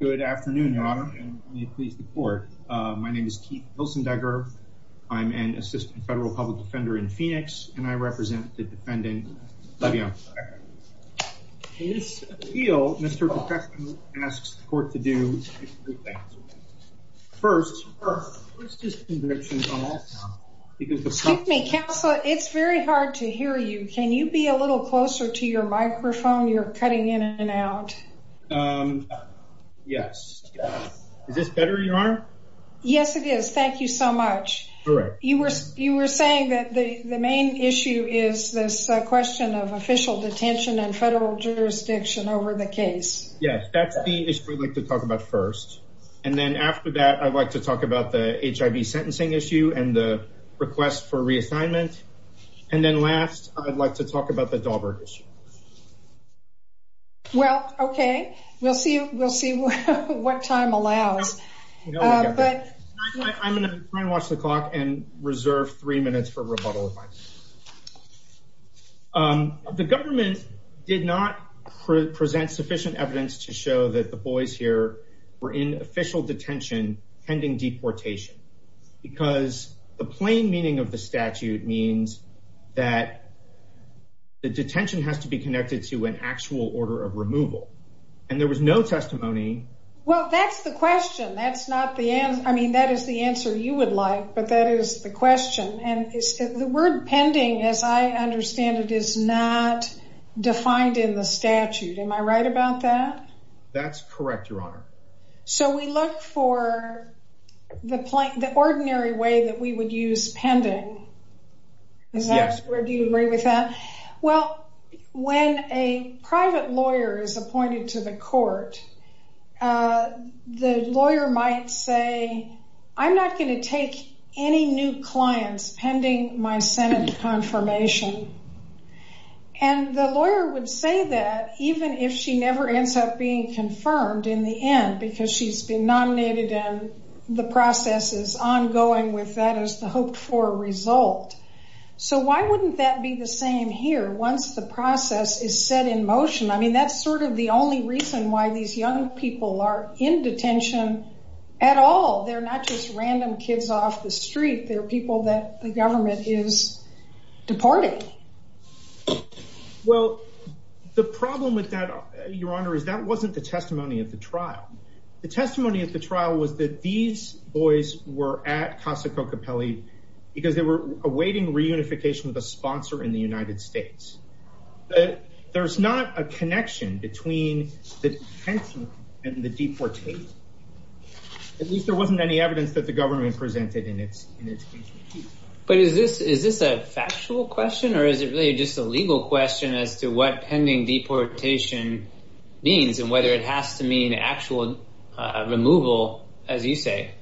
Good afternoon, Your Honor, and may it please the Court. My name is Keith Hilsendecker. I'm an assistant federal public defender in Phoenix and I represent the defendant, Levian Pacheco. In this appeal, Mr. Pacheco asks the Court to do three things. First, let's just... Excuse me, Counselor, it's very hard to hear you. Can you be a little louder? Yes. Is this better, Your Honor? Yes, it is. Thank you so much. You were saying that the main issue is this question of official detention and federal jurisdiction over the case. Yes, that's the issue we'd like to talk about first. And then after that, I'd like to talk about the HIV sentencing issue and the request for reassignment. And then last, I'd like to talk about the Dahlberg issue. Well, okay. We'll see what time allows. I'm going to try and watch the clock and reserve three minutes for rebuttal. The government did not present sufficient evidence to show that the boys here were in official detention pending deportation because the plain meaning of the statute means that the detention has to be connected to an actual order of removal. And there was no testimony... Well, that's the question. That's not the answer. I mean, that is the answer you would like, but that is the question. And the word pending, as I understand it, is not defined in the statute. Am I right about that? That's correct, Your Honor. So we look for the plain, the ordinary way that we would use pending. Yes. Do you agree with that? Well, when a private lawyer is appointed to the court, the lawyer might say, I'm not going to take any new clients pending my Senate confirmation. And the lawyer would say that even if she never ends up being nominated and the process is ongoing with that as the hoped-for result. So why wouldn't that be the same here once the process is set in motion? I mean, that's sort of the only reason why these young people are in detention at all. They're not just random kids off the street. They're people that the government is deporting. Well, the problem with that, Your Honor, is that wasn't the trial was that these boys were at Casa Cocapelli because they were awaiting reunification with a sponsor in the United States. But there's not a connection between the detention and the deportation. At least there wasn't any evidence that the government presented in its case. But is this is this a factual question or is it really just a legal question as to what pending deportation means and whether it has to mean actual removal, as you say?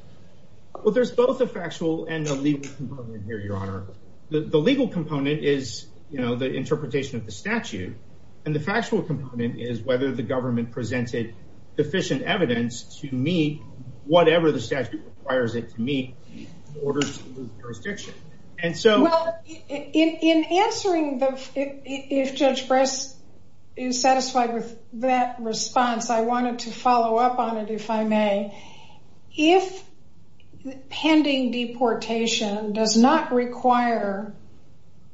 Well, there's both a factual and a legal component here, Your Honor. The legal component is, you know, the interpretation of the statute. And the factual component is whether the government presented sufficient evidence to meet whatever the statute requires it to meet in order to lose jurisdiction. And so in answering, if Judge Bress is satisfied with that response, I wanted to follow up on it, if I may. If pending deportation does not require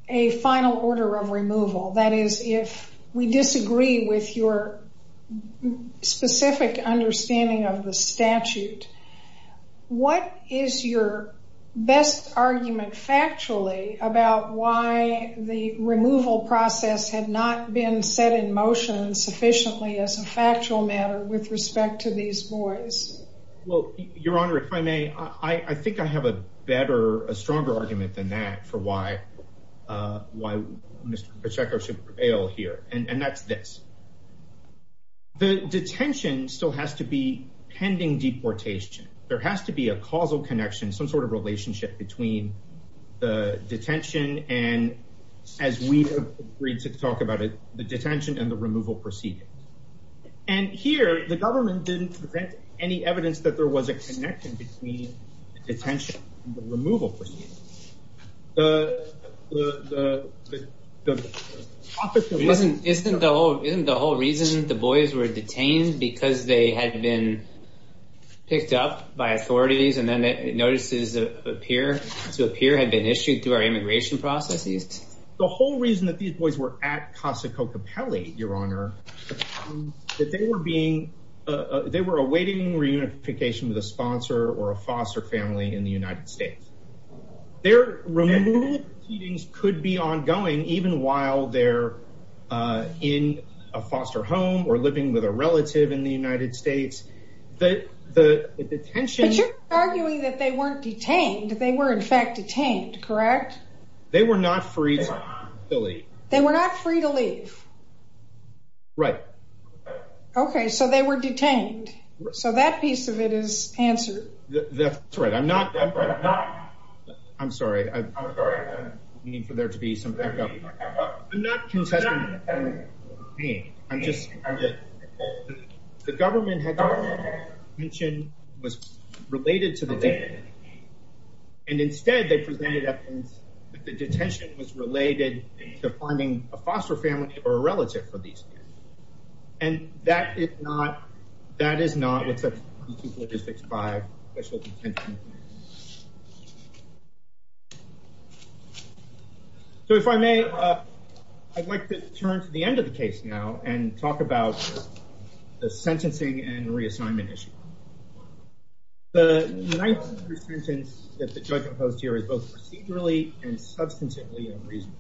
a final order of removal, that is, if we disagree with your specific understanding of the factually about why the removal process had not been set in motion sufficiently as a factual matter with respect to these boys. Well, Your Honor, if I may, I think I have a better, a stronger argument than that for why why Mr Pacheco should prevail here. And that's this. The detention still has to be pending deportation. There has to be a causal connection, some sort of relationship between the detention and, as we agreed to talk about it, the detention and the removal proceedings. And here, the government didn't present any evidence that there was a connection between detention and the removal proceedings. The, the, the, the, the, the, the, the Isn't, isn't the whole, isn't the whole reason the boys were detained? Because they had been picked up by authorities and then notices appear, to appear, had been issued through our immigration processes? The whole reason that these boys were at Casa Cocapelli, Your Honor, that they were being, they were awaiting reunification with a sponsor or a foster family in the United States. Their removal proceedings could be ongoing even while they're in a foster home or living with a relative in the United States. The, the, the detention But you're arguing that they weren't detained. They were in fact detained, correct? They were not free to leave. They were not free to leave. Right. Okay. So they were detained. So that piece of it is answered. That's right. I'm not, I'm not, I'm sorry. I'm sorry for there to be some echo. I'm not contesting the claim. I'm just, the government had mentioned was related to the detention. And instead they presented evidence that the detention was related to finding a foster family or a relative for these kids. And that is not, that is not I'd like to turn to the end of the case now and talk about the sentencing and reassignment issue. The ninth sentence that the judge imposed here is both procedurally and substantively unreasonable.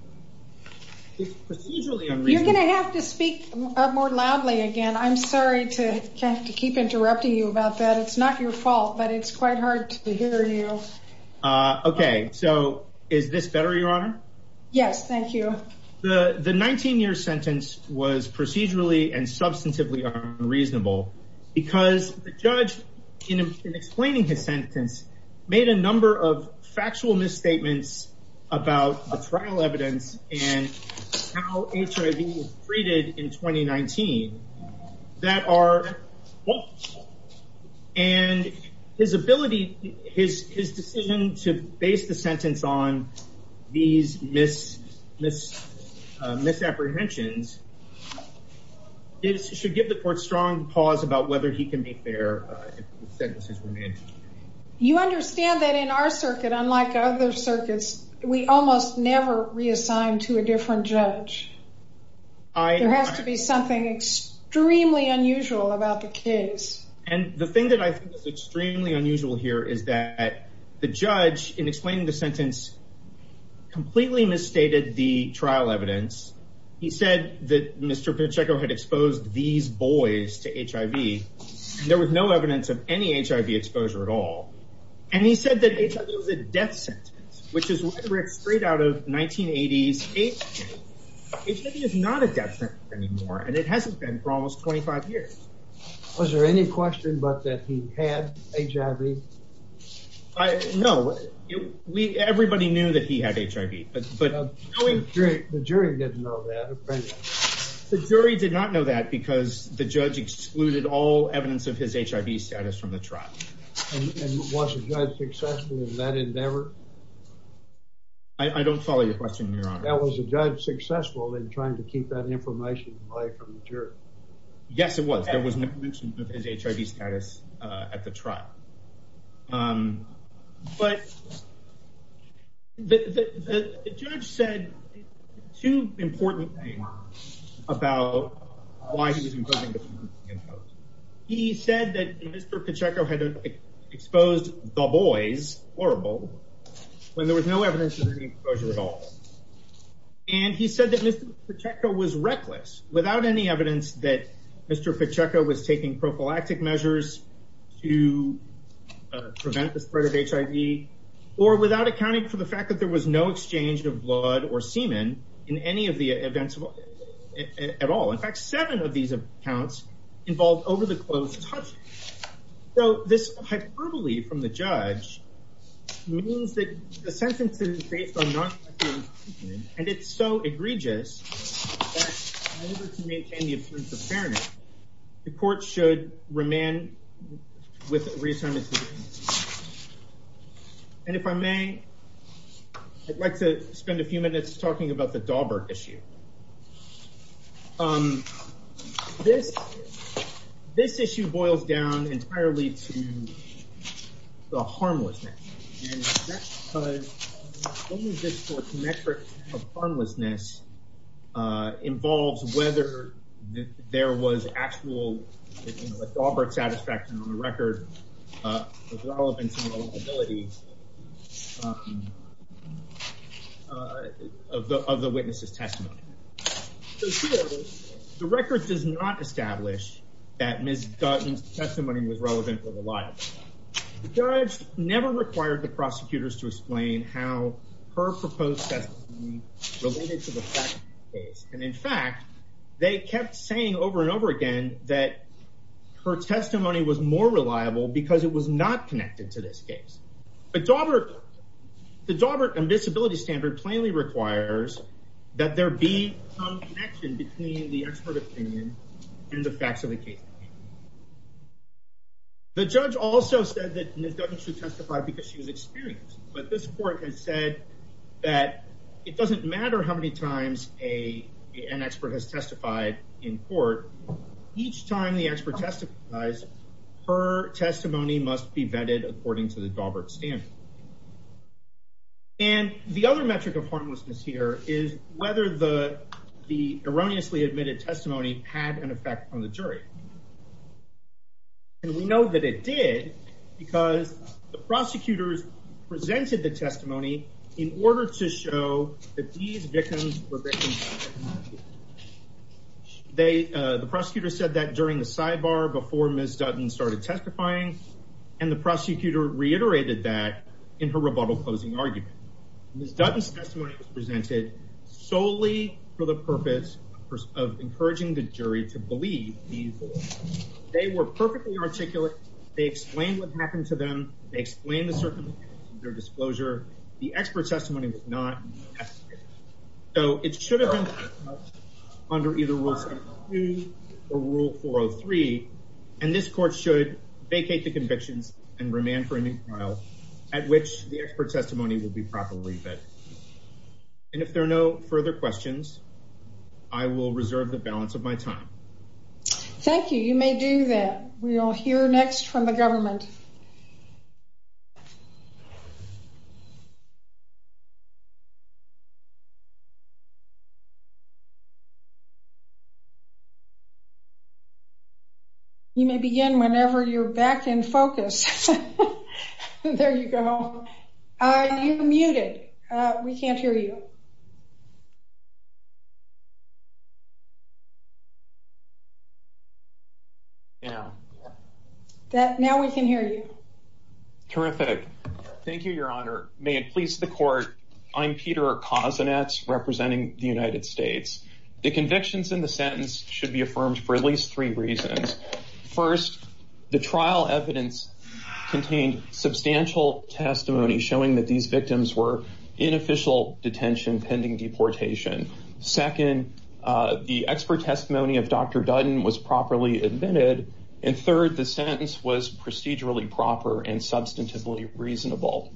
You're going to have to speak more loudly again. I'm sorry to have to keep interrupting you about that. It's not your fault, but it's quite hard to hear you. Okay. So is this better, Your Honor? Yes. Thank you. The 19 year sentence was procedurally and substantively unreasonable because the judge in explaining his sentence made a number of factual misstatements about the trial evidence and how HIV was treated in 2019. And his ability, his decision to base the sentence on these misapprehensions should give the court strong pause about whether he can be fair if the sentences were made. You understand that in our circuit, unlike other circuits, we almost never reassign to a different judge. There has to be something extremely unusual about the case. And the thing that I think is extremely unusual here is that the judge in explaining the sentence completely misstated the trial evidence. He said that Mr. Pacheco had exposed these boys to HIV. There was no evidence of any HIV exposure at all. And he said that it was a death sentence, which is right straight out of 1980s. HIV is not a death sentence anymore, and it hasn't been for almost 25 years. Was there any question but that he had HIV? No, everybody knew that he had HIV, but the jury did not know that because the judge excluded all evidence of his HIV status from the trial. And was the judge successful in that endeavor? I don't follow your question, Your Honor. Was the judge successful in trying to keep that information away from the jury? Yes, it was. There was no mention of his HIV status at the trial. But the judge said two important things about why he was exposing the boys. He said that Mr. Pacheco had exposed the boys, horrible, when there was no evidence of any exposure at all. And he said that Mr. Pacheco was reckless, without any evidence that Mr. Pacheco could prevent the spread of HIV, or without accounting for the fact that there was no exchange of blood or semen in any of the events at all. In fact, seven of these accounts involved over-the-close touching. So this hyperbole from the judge means that the sentence is based on non-sexual intercourse, and it's so egregious that in order to maintain the appearance of fairness, the court should remand with reassignment to the defense. And if I may, I'd like to spend a few minutes talking about the Dahlberg issue. This issue boils down entirely to the harmlessness. And that's because only this sort of metric of harmlessness involves whether there was actual Dahlberg satisfaction on the record, the relevance and the reliability of the witness's testimony. The record does not establish that Ms. Dutton's testimony was relevant or reliable. The judge never required the prosecutors to explain how her proposed testimony related to the facts of the case. And in fact, they kept saying over and over again that her testimony was more reliable because it was not connected to this case. But the Dahlberg disability standard plainly requires that there be some connection between the expert opinion and the facts of the case. The judge also said that Ms. Dutton should testify because she was experienced, but this doesn't matter how many times an expert has testified in court, each time the expert testifies, her testimony must be vetted according to the Dahlberg standard. And the other metric of harmlessness here is whether the erroneously admitted testimony had an effect on the jury. And we know that it did because the prosecutors presented the testimony in order to show that these victims were victims. The prosecutor said that during the sidebar before Ms. Dutton started testifying, and the prosecutor reiterated that in her rebuttal closing argument. Ms. Dutton's testimony was presented solely for the purpose of encouraging the jury to believe these words. They were perfectly articulate. They explained what happened to them. They explained the circumstances of their disclosure. The expert testimony was not. So it should have been under either Rule 602 or Rule 403, and this court should vacate the convictions and remand for a new trial at which the expert testimony will be properly vetted. And if there are no further questions, I will reserve the balance of my time. Thank you. You may do that. We all hear next from the government. You may begin whenever you're back in focus. There you go. Are you muted? We can't hear you. Now we can hear you. Terrific. Thank you, Your Honor. May it please the court. I'm Peter Kozinets representing the United States. The convictions in the sentence should be affirmed for at least three reasons. First, the trial evidence contained substantial testimony showing that these victims were inofficial detention pending deportation. Second, the expert testimony of Dr. Dutton was properly admitted. And third, the sentence was procedurally proper and substantively reasonable.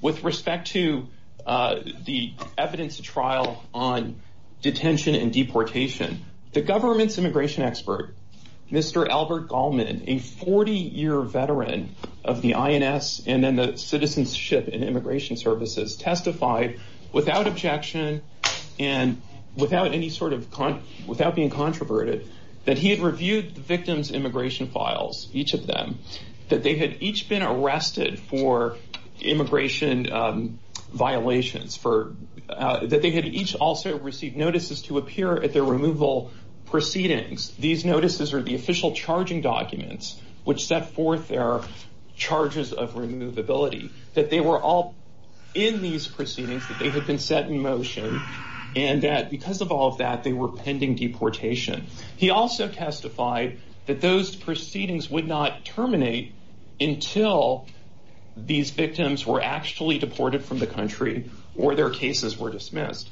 With respect to the evidence trial on detention and deportation, the government's immigration expert, Mr. Albert Goldman, a 40 year veteran of the INS and then the Citizenship and Immigration Services, testified without objection and without any sort of without being controverted that he had reviewed the victim's immigration files, each of them, that they had each been arrested for immigration violations for that. They had each also received notices to appear at their removal proceedings. These notices are the official charging documents which set forth their charges of removability, that they were all in these proceedings, that they had been set in motion and that because of all of that, they were pending deportation. He also testified that those proceedings would not terminate until these victims were actually deported from the country or their cases were dismissed.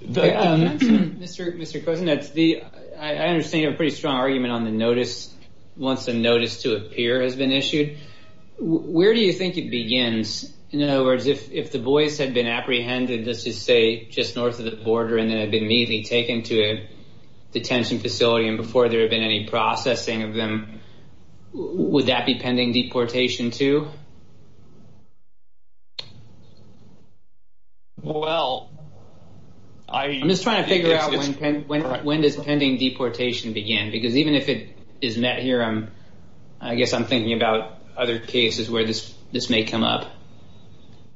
Mr. Kuznets, I understand you have a pretty strong argument on the notice, once a notice to appear has been issued. Where do you think it begins? In other words, if the boys had been apprehended, let's just say just north of the border and then had been immediately taken to a detention facility and before there had been any processing of them, would that be pending deportation too? Well, I'm just trying to figure out when does pending deportation begin? Because even if it is met here, I guess I'm thinking about other cases where this may come up.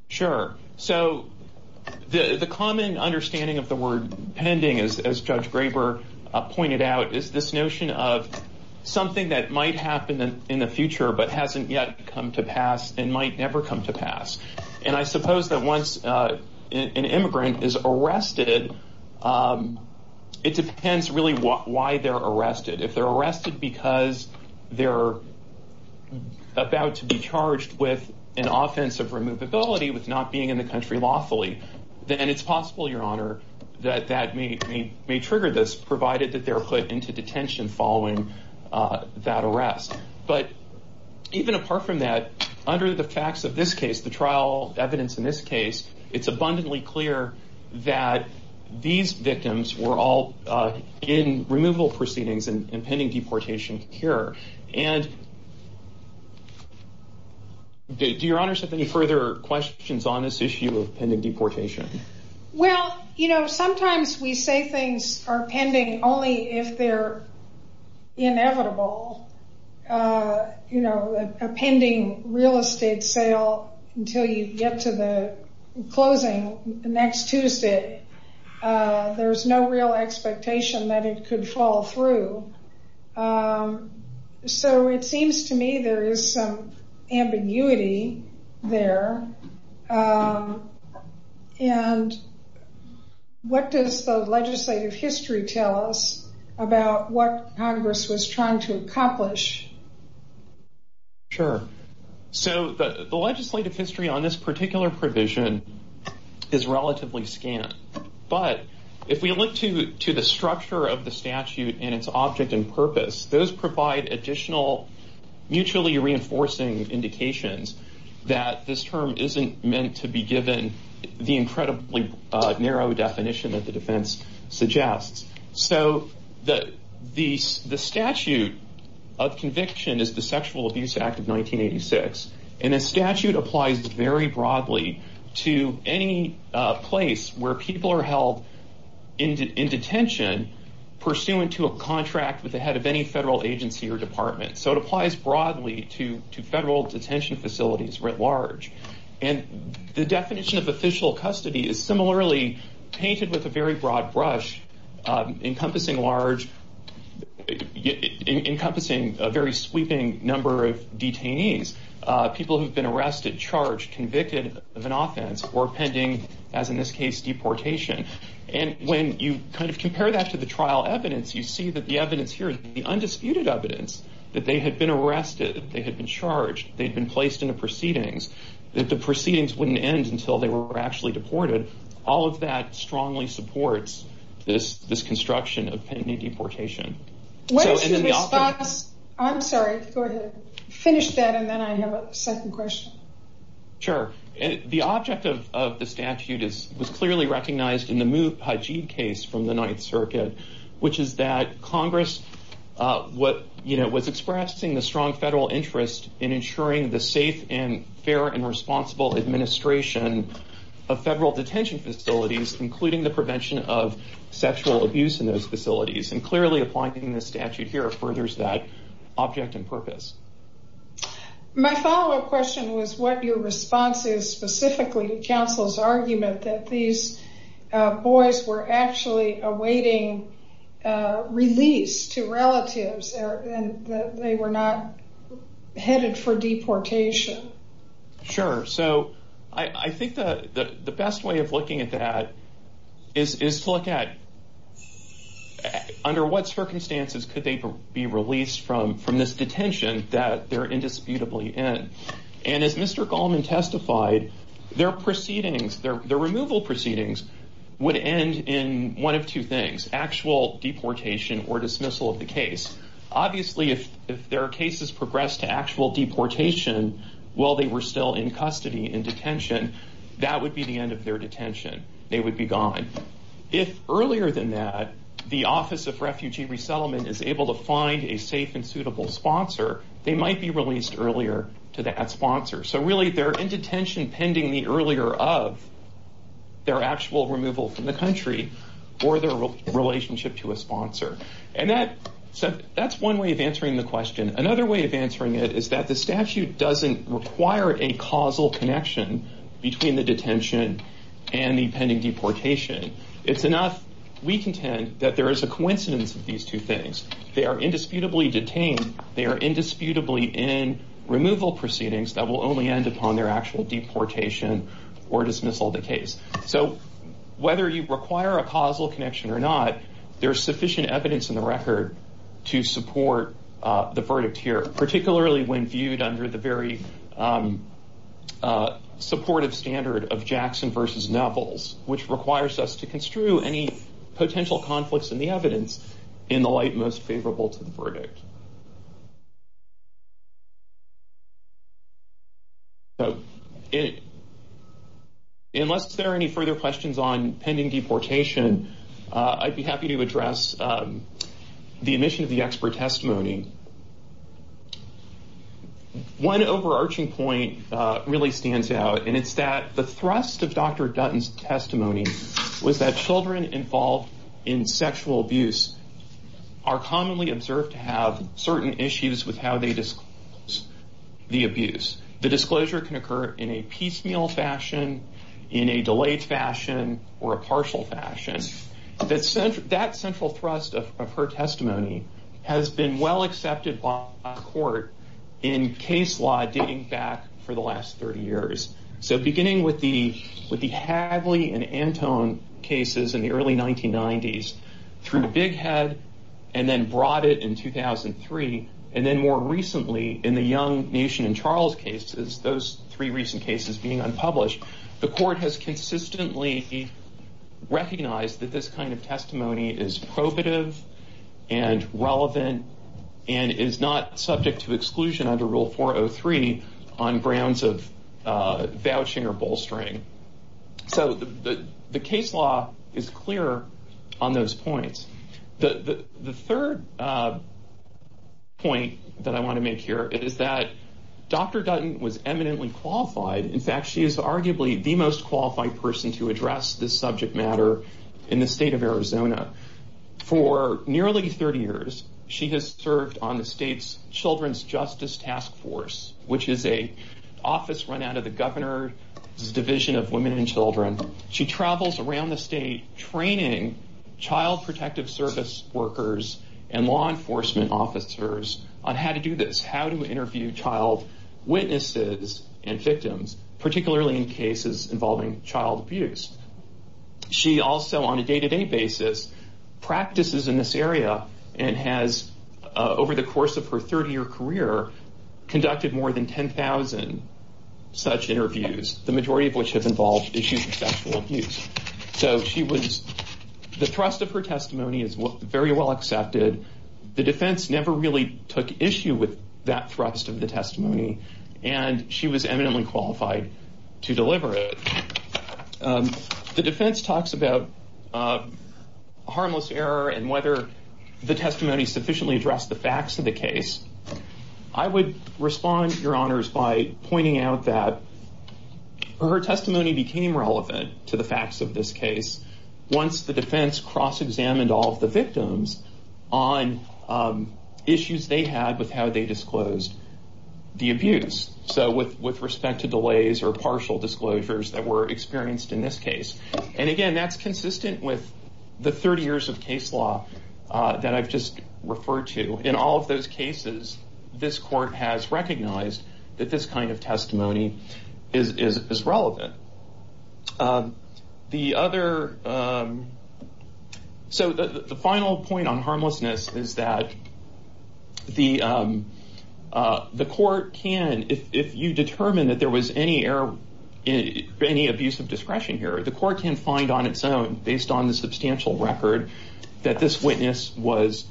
Sure. So the common understanding of the word pending, as Judge Graber pointed out, is this notion of something that might happen in the future, but hasn't yet come to pass and might never come to pass. And I suppose that once an immigrant is arrested, it depends really why they're arrested. If they're arrested because they're about to be charged with an offense of removability with not being in the country lawfully, then it's possible, Your Honor, that that may trigger this, provided that they're put into detention following that arrest. But even apart from that, under the facts of this case, the trial evidence in this case, it's abundantly clear that these victims were all in removal proceedings and were not in detention. Do Your Honor have any further questions on this issue of pending deportation? Well, you know, sometimes we say things are pending only if they're inevitable. You know, a pending real estate sale until you get to the closing next Tuesday, there's no real expectation that it could fall through. So it seems to me there is some ambiguity there and what does the legislative history tell us about what Congress was trying to accomplish? Sure. So the legislative history on this particular provision is relatively scant, but if we look to the structure of the statute and its object and purpose, those provide additional mutually reinforcing indications that this term isn't meant to be given the incredibly narrow definition that the defense suggests. So the statute of conviction is the Sexual Abuse Act of 1986. And the statute applies very broadly to any place where people are held in detention pursuant to a contract with the head of any federal agency or department. So it applies broadly to federal detention facilities writ large. And the definition of official custody is similarly painted with a very broad brush, encompassing large, encompassing a very sweeping number of detainees. People who've been arrested, charged, convicted of an offense or pending, as in this case, deportation. And when you kind of compare that to the trial evidence, you see that the evidence here, the undisputed evidence that they had been arrested, they had been charged, they'd been placed into proceedings, that the proceedings wouldn't end until they were actually deported. All of that strongly supports this construction of pending deportation. What is the response? I'm sorry. Go ahead. Finish that and then I have a second question. Sure. The object of the statute was clearly recognized in the Moop Hajib case from the Ninth Circuit, which is that Congress was expressing the strong federal interest in federal detention facilities, including the prevention of sexual abuse in those facilities. And clearly applying the statute here furthers that object and purpose. My follow up question was what your response is specifically to counsel's argument that these boys were actually awaiting release to relatives and that they were not headed for deportation. Sure. So I think the best way of looking at that is to look at under what circumstances could they be released from this detention that they're indisputably in. And as Mr. Goldman testified, their proceedings, their removal proceedings, would end in one of two things, actual deportation or dismissal of the case. Obviously, if their cases progress to actual deportation while they were still in custody in detention, that would be the end of their detention. They would be gone. If earlier than that, the Office of Refugee Resettlement is able to find a safe and suitable sponsor, they might be released earlier to that sponsor. So really, they're in detention pending the earlier of their actual removal from the country or their relationship to a sponsor. And that said, that's one way of answering the question. Another way of answering it is that the statute doesn't require a causal connection between the detention and the pending deportation. It's enough. We contend that there is a coincidence of these two things. They are indisputably detained. They are indisputably in removal proceedings that will only end upon their actual deportation or dismissal of the case. So whether you require a causal connection or not, there is sufficient evidence in the record to support the verdict here, particularly when viewed under the very supportive standard of Jackson versus Nevels, which requires us to construe any potential conflicts in the evidence in the light most favorable to the verdict. So unless there are any further questions on pending deportation, I'd be happy to address the omission of the expert testimony. One overarching point really stands out, and it's that the thrust of Dr. Dutton's testimony was that children involved in sexual abuse are commonly observed to have a history of sexual abuse. Certain issues with how they disclose the abuse, the disclosure can occur in a piecemeal fashion, in a delayed fashion or a partial fashion. That central thrust of her testimony has been well accepted by court in case law dating back for the last 30 years. So beginning with the Hadley and Antone cases in the early 1990s through Bighead and then brought it in 2003, and then more recently in the Young, Nation and Charles cases, those three recent cases being unpublished, the court has consistently recognized that this kind of testimony is probative and relevant and is not subject to exclusion under Rule 403 on grounds of vouching or bolstering. So the case law is clear on those points. The third point that I want to make here is that Dr. Dutton was eminently qualified. In fact, she is arguably the most qualified person to address this subject matter in the state of Arizona. For nearly 30 years, she has served on the state's Children's Justice Task Force, which is an office run out of the Governor's Division of Women and Children. She travels around the state training child protective service workers and law enforcement officers on how to do this, how to interview child witnesses and victims, particularly in cases involving child abuse. She also, on a day to day basis, practices in this area and has, over the course of her 30 year career, conducted more than 10,000 such interviews, the majority of which have involved issues of sexual abuse. So she was the thrust of her testimony is very well accepted. The defense never really took issue with that thrust of the testimony, and she was eminently qualified to deliver it. The defense talks about harmless error and whether the testimony sufficiently addressed the facts of the case. I would respond, Your Honors, by pointing out that her testimony became relevant to the facts of this case once the defense cross examined all of the victims on issues they had with how they disclosed the abuse. So with with respect to delays or partial disclosures that were experienced in this case. And again, that's consistent with the 30 years of case law that I've just referred to. In all of those cases, this court has recognized that this kind of testimony is relevant. The other. So the final point on harmlessness is that the the court can, if you determine that there was any error, any abuse of discretion here, the court can find on its own, based on the substantial record that this witness was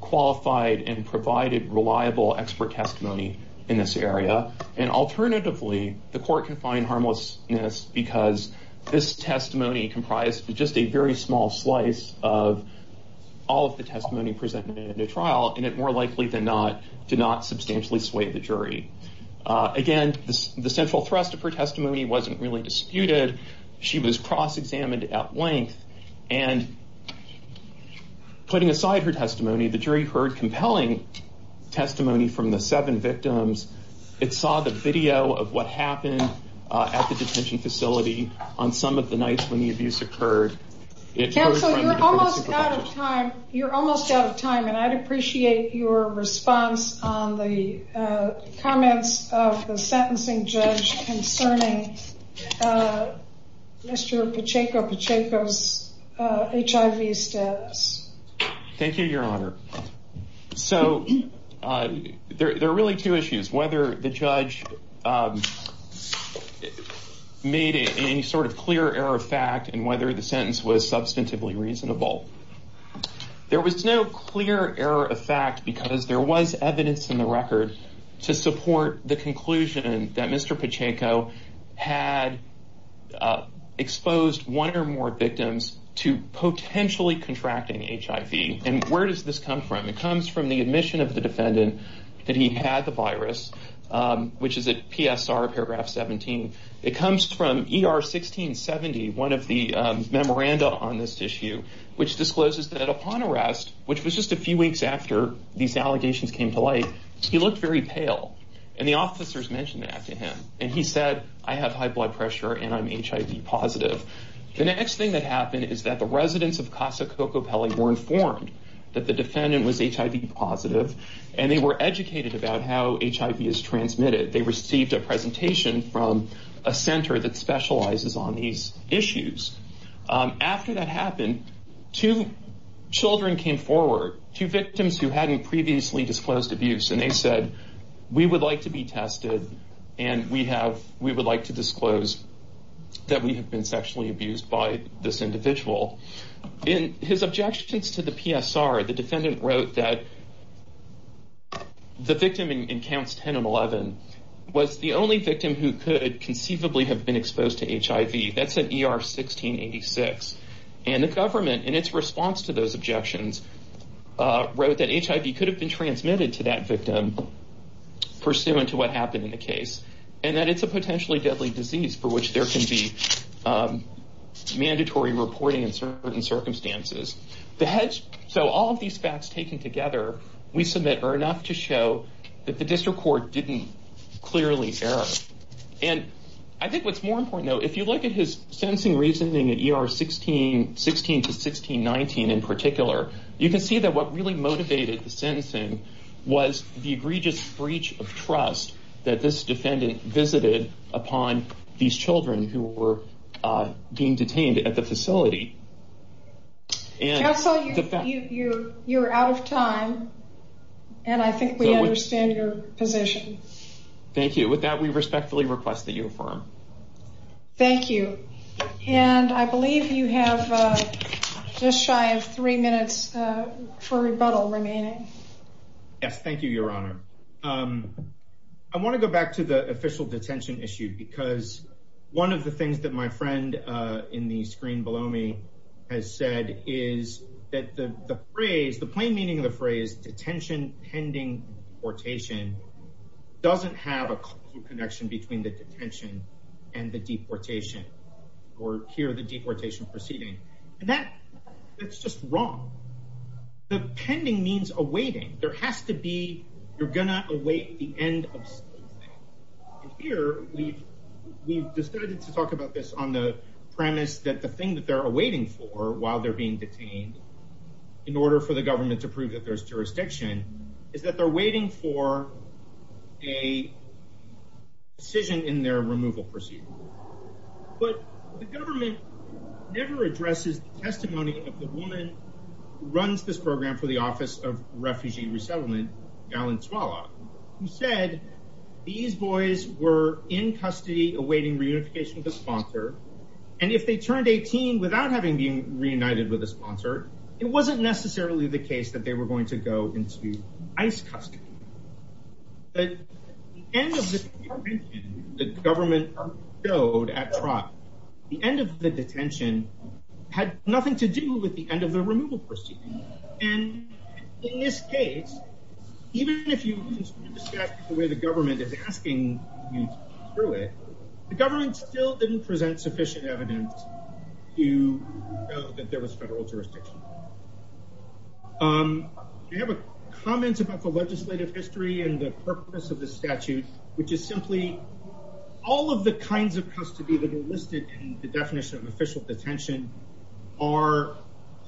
qualified and provided reliable expert testimony in this area. And alternatively, the court can find harmlessness because this testimony comprised just a very small slice of all of the testimony presented in the trial. And it more likely than not, did not substantially sway the jury. Again, the central thrust of her testimony wasn't really disputed. She was cross examined at length and. Putting aside her testimony, the jury heard compelling testimony from the seven victims. It saw the video of what happened at the detention facility on some of the nights when the abuse occurred. It was almost out of time. You're almost out of time. And I'd appreciate your response on the comments of the sentencing judge concerning Mr. Pacheco, Pacheco's HIV status. Thank you, Your Honor. So there are really two issues, whether the judge made any sort of clear error of fact and whether the sentence was substantively reasonable. There was no clear error of fact because there was evidence in the record to support the exposed one or more victims to potentially contracting HIV. And where does this come from? It comes from the admission of the defendant that he had the virus, which is a PSR paragraph 17. It comes from ER 1670, one of the memoranda on this issue, which discloses that upon arrest, which was just a few weeks after these allegations came to light, he looked very pale. And the officers mentioned that to him. And he said, I have high blood pressure and I'm HIV positive. The next thing that happened is that the residents of Casa Cocopelli were informed that the defendant was HIV positive and they were educated about how HIV is transmitted. They received a presentation from a center that specializes on these issues. After that happened, two children came forward, two victims who hadn't previously disclosed abuse, and they said, we would like to be tested and we have we would like to disclose that we have been sexually abused by this individual in his objections to the PSR. The defendant wrote that the victim in counts 10 and 11 was the only victim who could conceivably have been exposed to HIV. That's an ER 1686. And the government, in its response to those objections, wrote that HIV could have been transmitted to that victim pursuant to what happened in the case and that it's a potentially deadly disease for which there can be mandatory reporting in certain circumstances. So all of these facts taken together, we submit are enough to show that the district court didn't clearly err. And I think what's more important, though, if you look at his sentencing reasoning at ER 1616 to 1619 in particular, you can see that what really motivated the sentencing was the egregious breach of trust that this defendant visited upon these children who were being detained at the facility. And so you're out of time, and I think we understand your position. Thank you. With that, we respectfully request that you affirm. Thank you. And I believe you have just shy of three minutes for rebuttal remaining. Yes, thank you, Your Honor. I want to go back to the official detention issue, because one of the things that my friend in the screen below me has said is that the phrase, the plain meaning of the phrase detention pending deportation doesn't have a connection between the detention and the deportation or here the deportation proceeding. And that that's just wrong. The pending means awaiting. There has to be you're going to await the end of here. We've decided to talk about this on the premise that the thing that they're awaiting for while they're being detained in order for the government to prove that there's jurisdiction is that they're waiting for a decision in their removal procedure. But the government never addresses the testimony of the woman who runs this program for the Office of Refugee Resettlement, Valenzuela, who said these boys were in custody awaiting reunification with a sponsor. And if they turned 18 without having been reunited with a sponsor, it wasn't necessarily the case that they were going to go into ICE custody. But the end of the government showed at trial, the end of the detention had nothing to do with the end of the removal proceeding. And in this case, even if you look at the way the government is asking you through it, the government doesn't present sufficient evidence to know that there was federal jurisdiction. I have a comment about the legislative history and the purpose of the statute, which is simply all of the kinds of custody that are listed in the definition of official detention are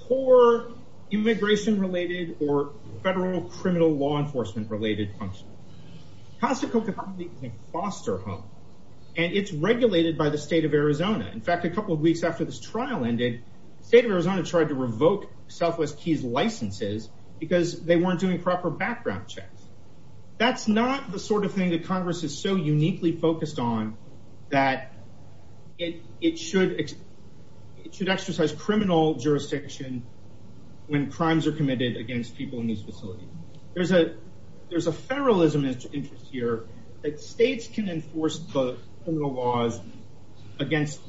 for immigration related or federal criminal law enforcement related function. Casa Coca-Cola is a foster home and it's regulated by the state of Arizona. In fact, a couple of weeks after this trial ended, the state of Arizona tried to revoke Southwest Key's licenses because they weren't doing proper background checks. That's not the sort of thing that Congress is so uniquely focused on that it should exercise criminal jurisdiction when crimes are committed against people in these facilities. There's a federalism interest here that states can enforce both criminal laws against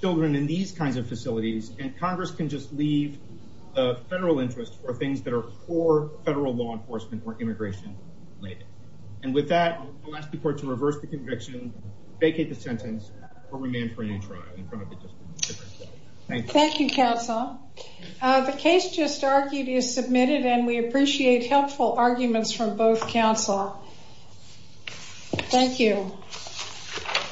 children in these kinds of facilities and Congress can just leave the federal interest for things that are for federal law enforcement or immigration related. And with that, I'll ask the court to reverse the conviction, vacate the sentence, or remand for a new trial in front of the district attorney. Thank you, counsel. The case just argued is submitted and we appreciate helpful arguments from both counsel. Thank you.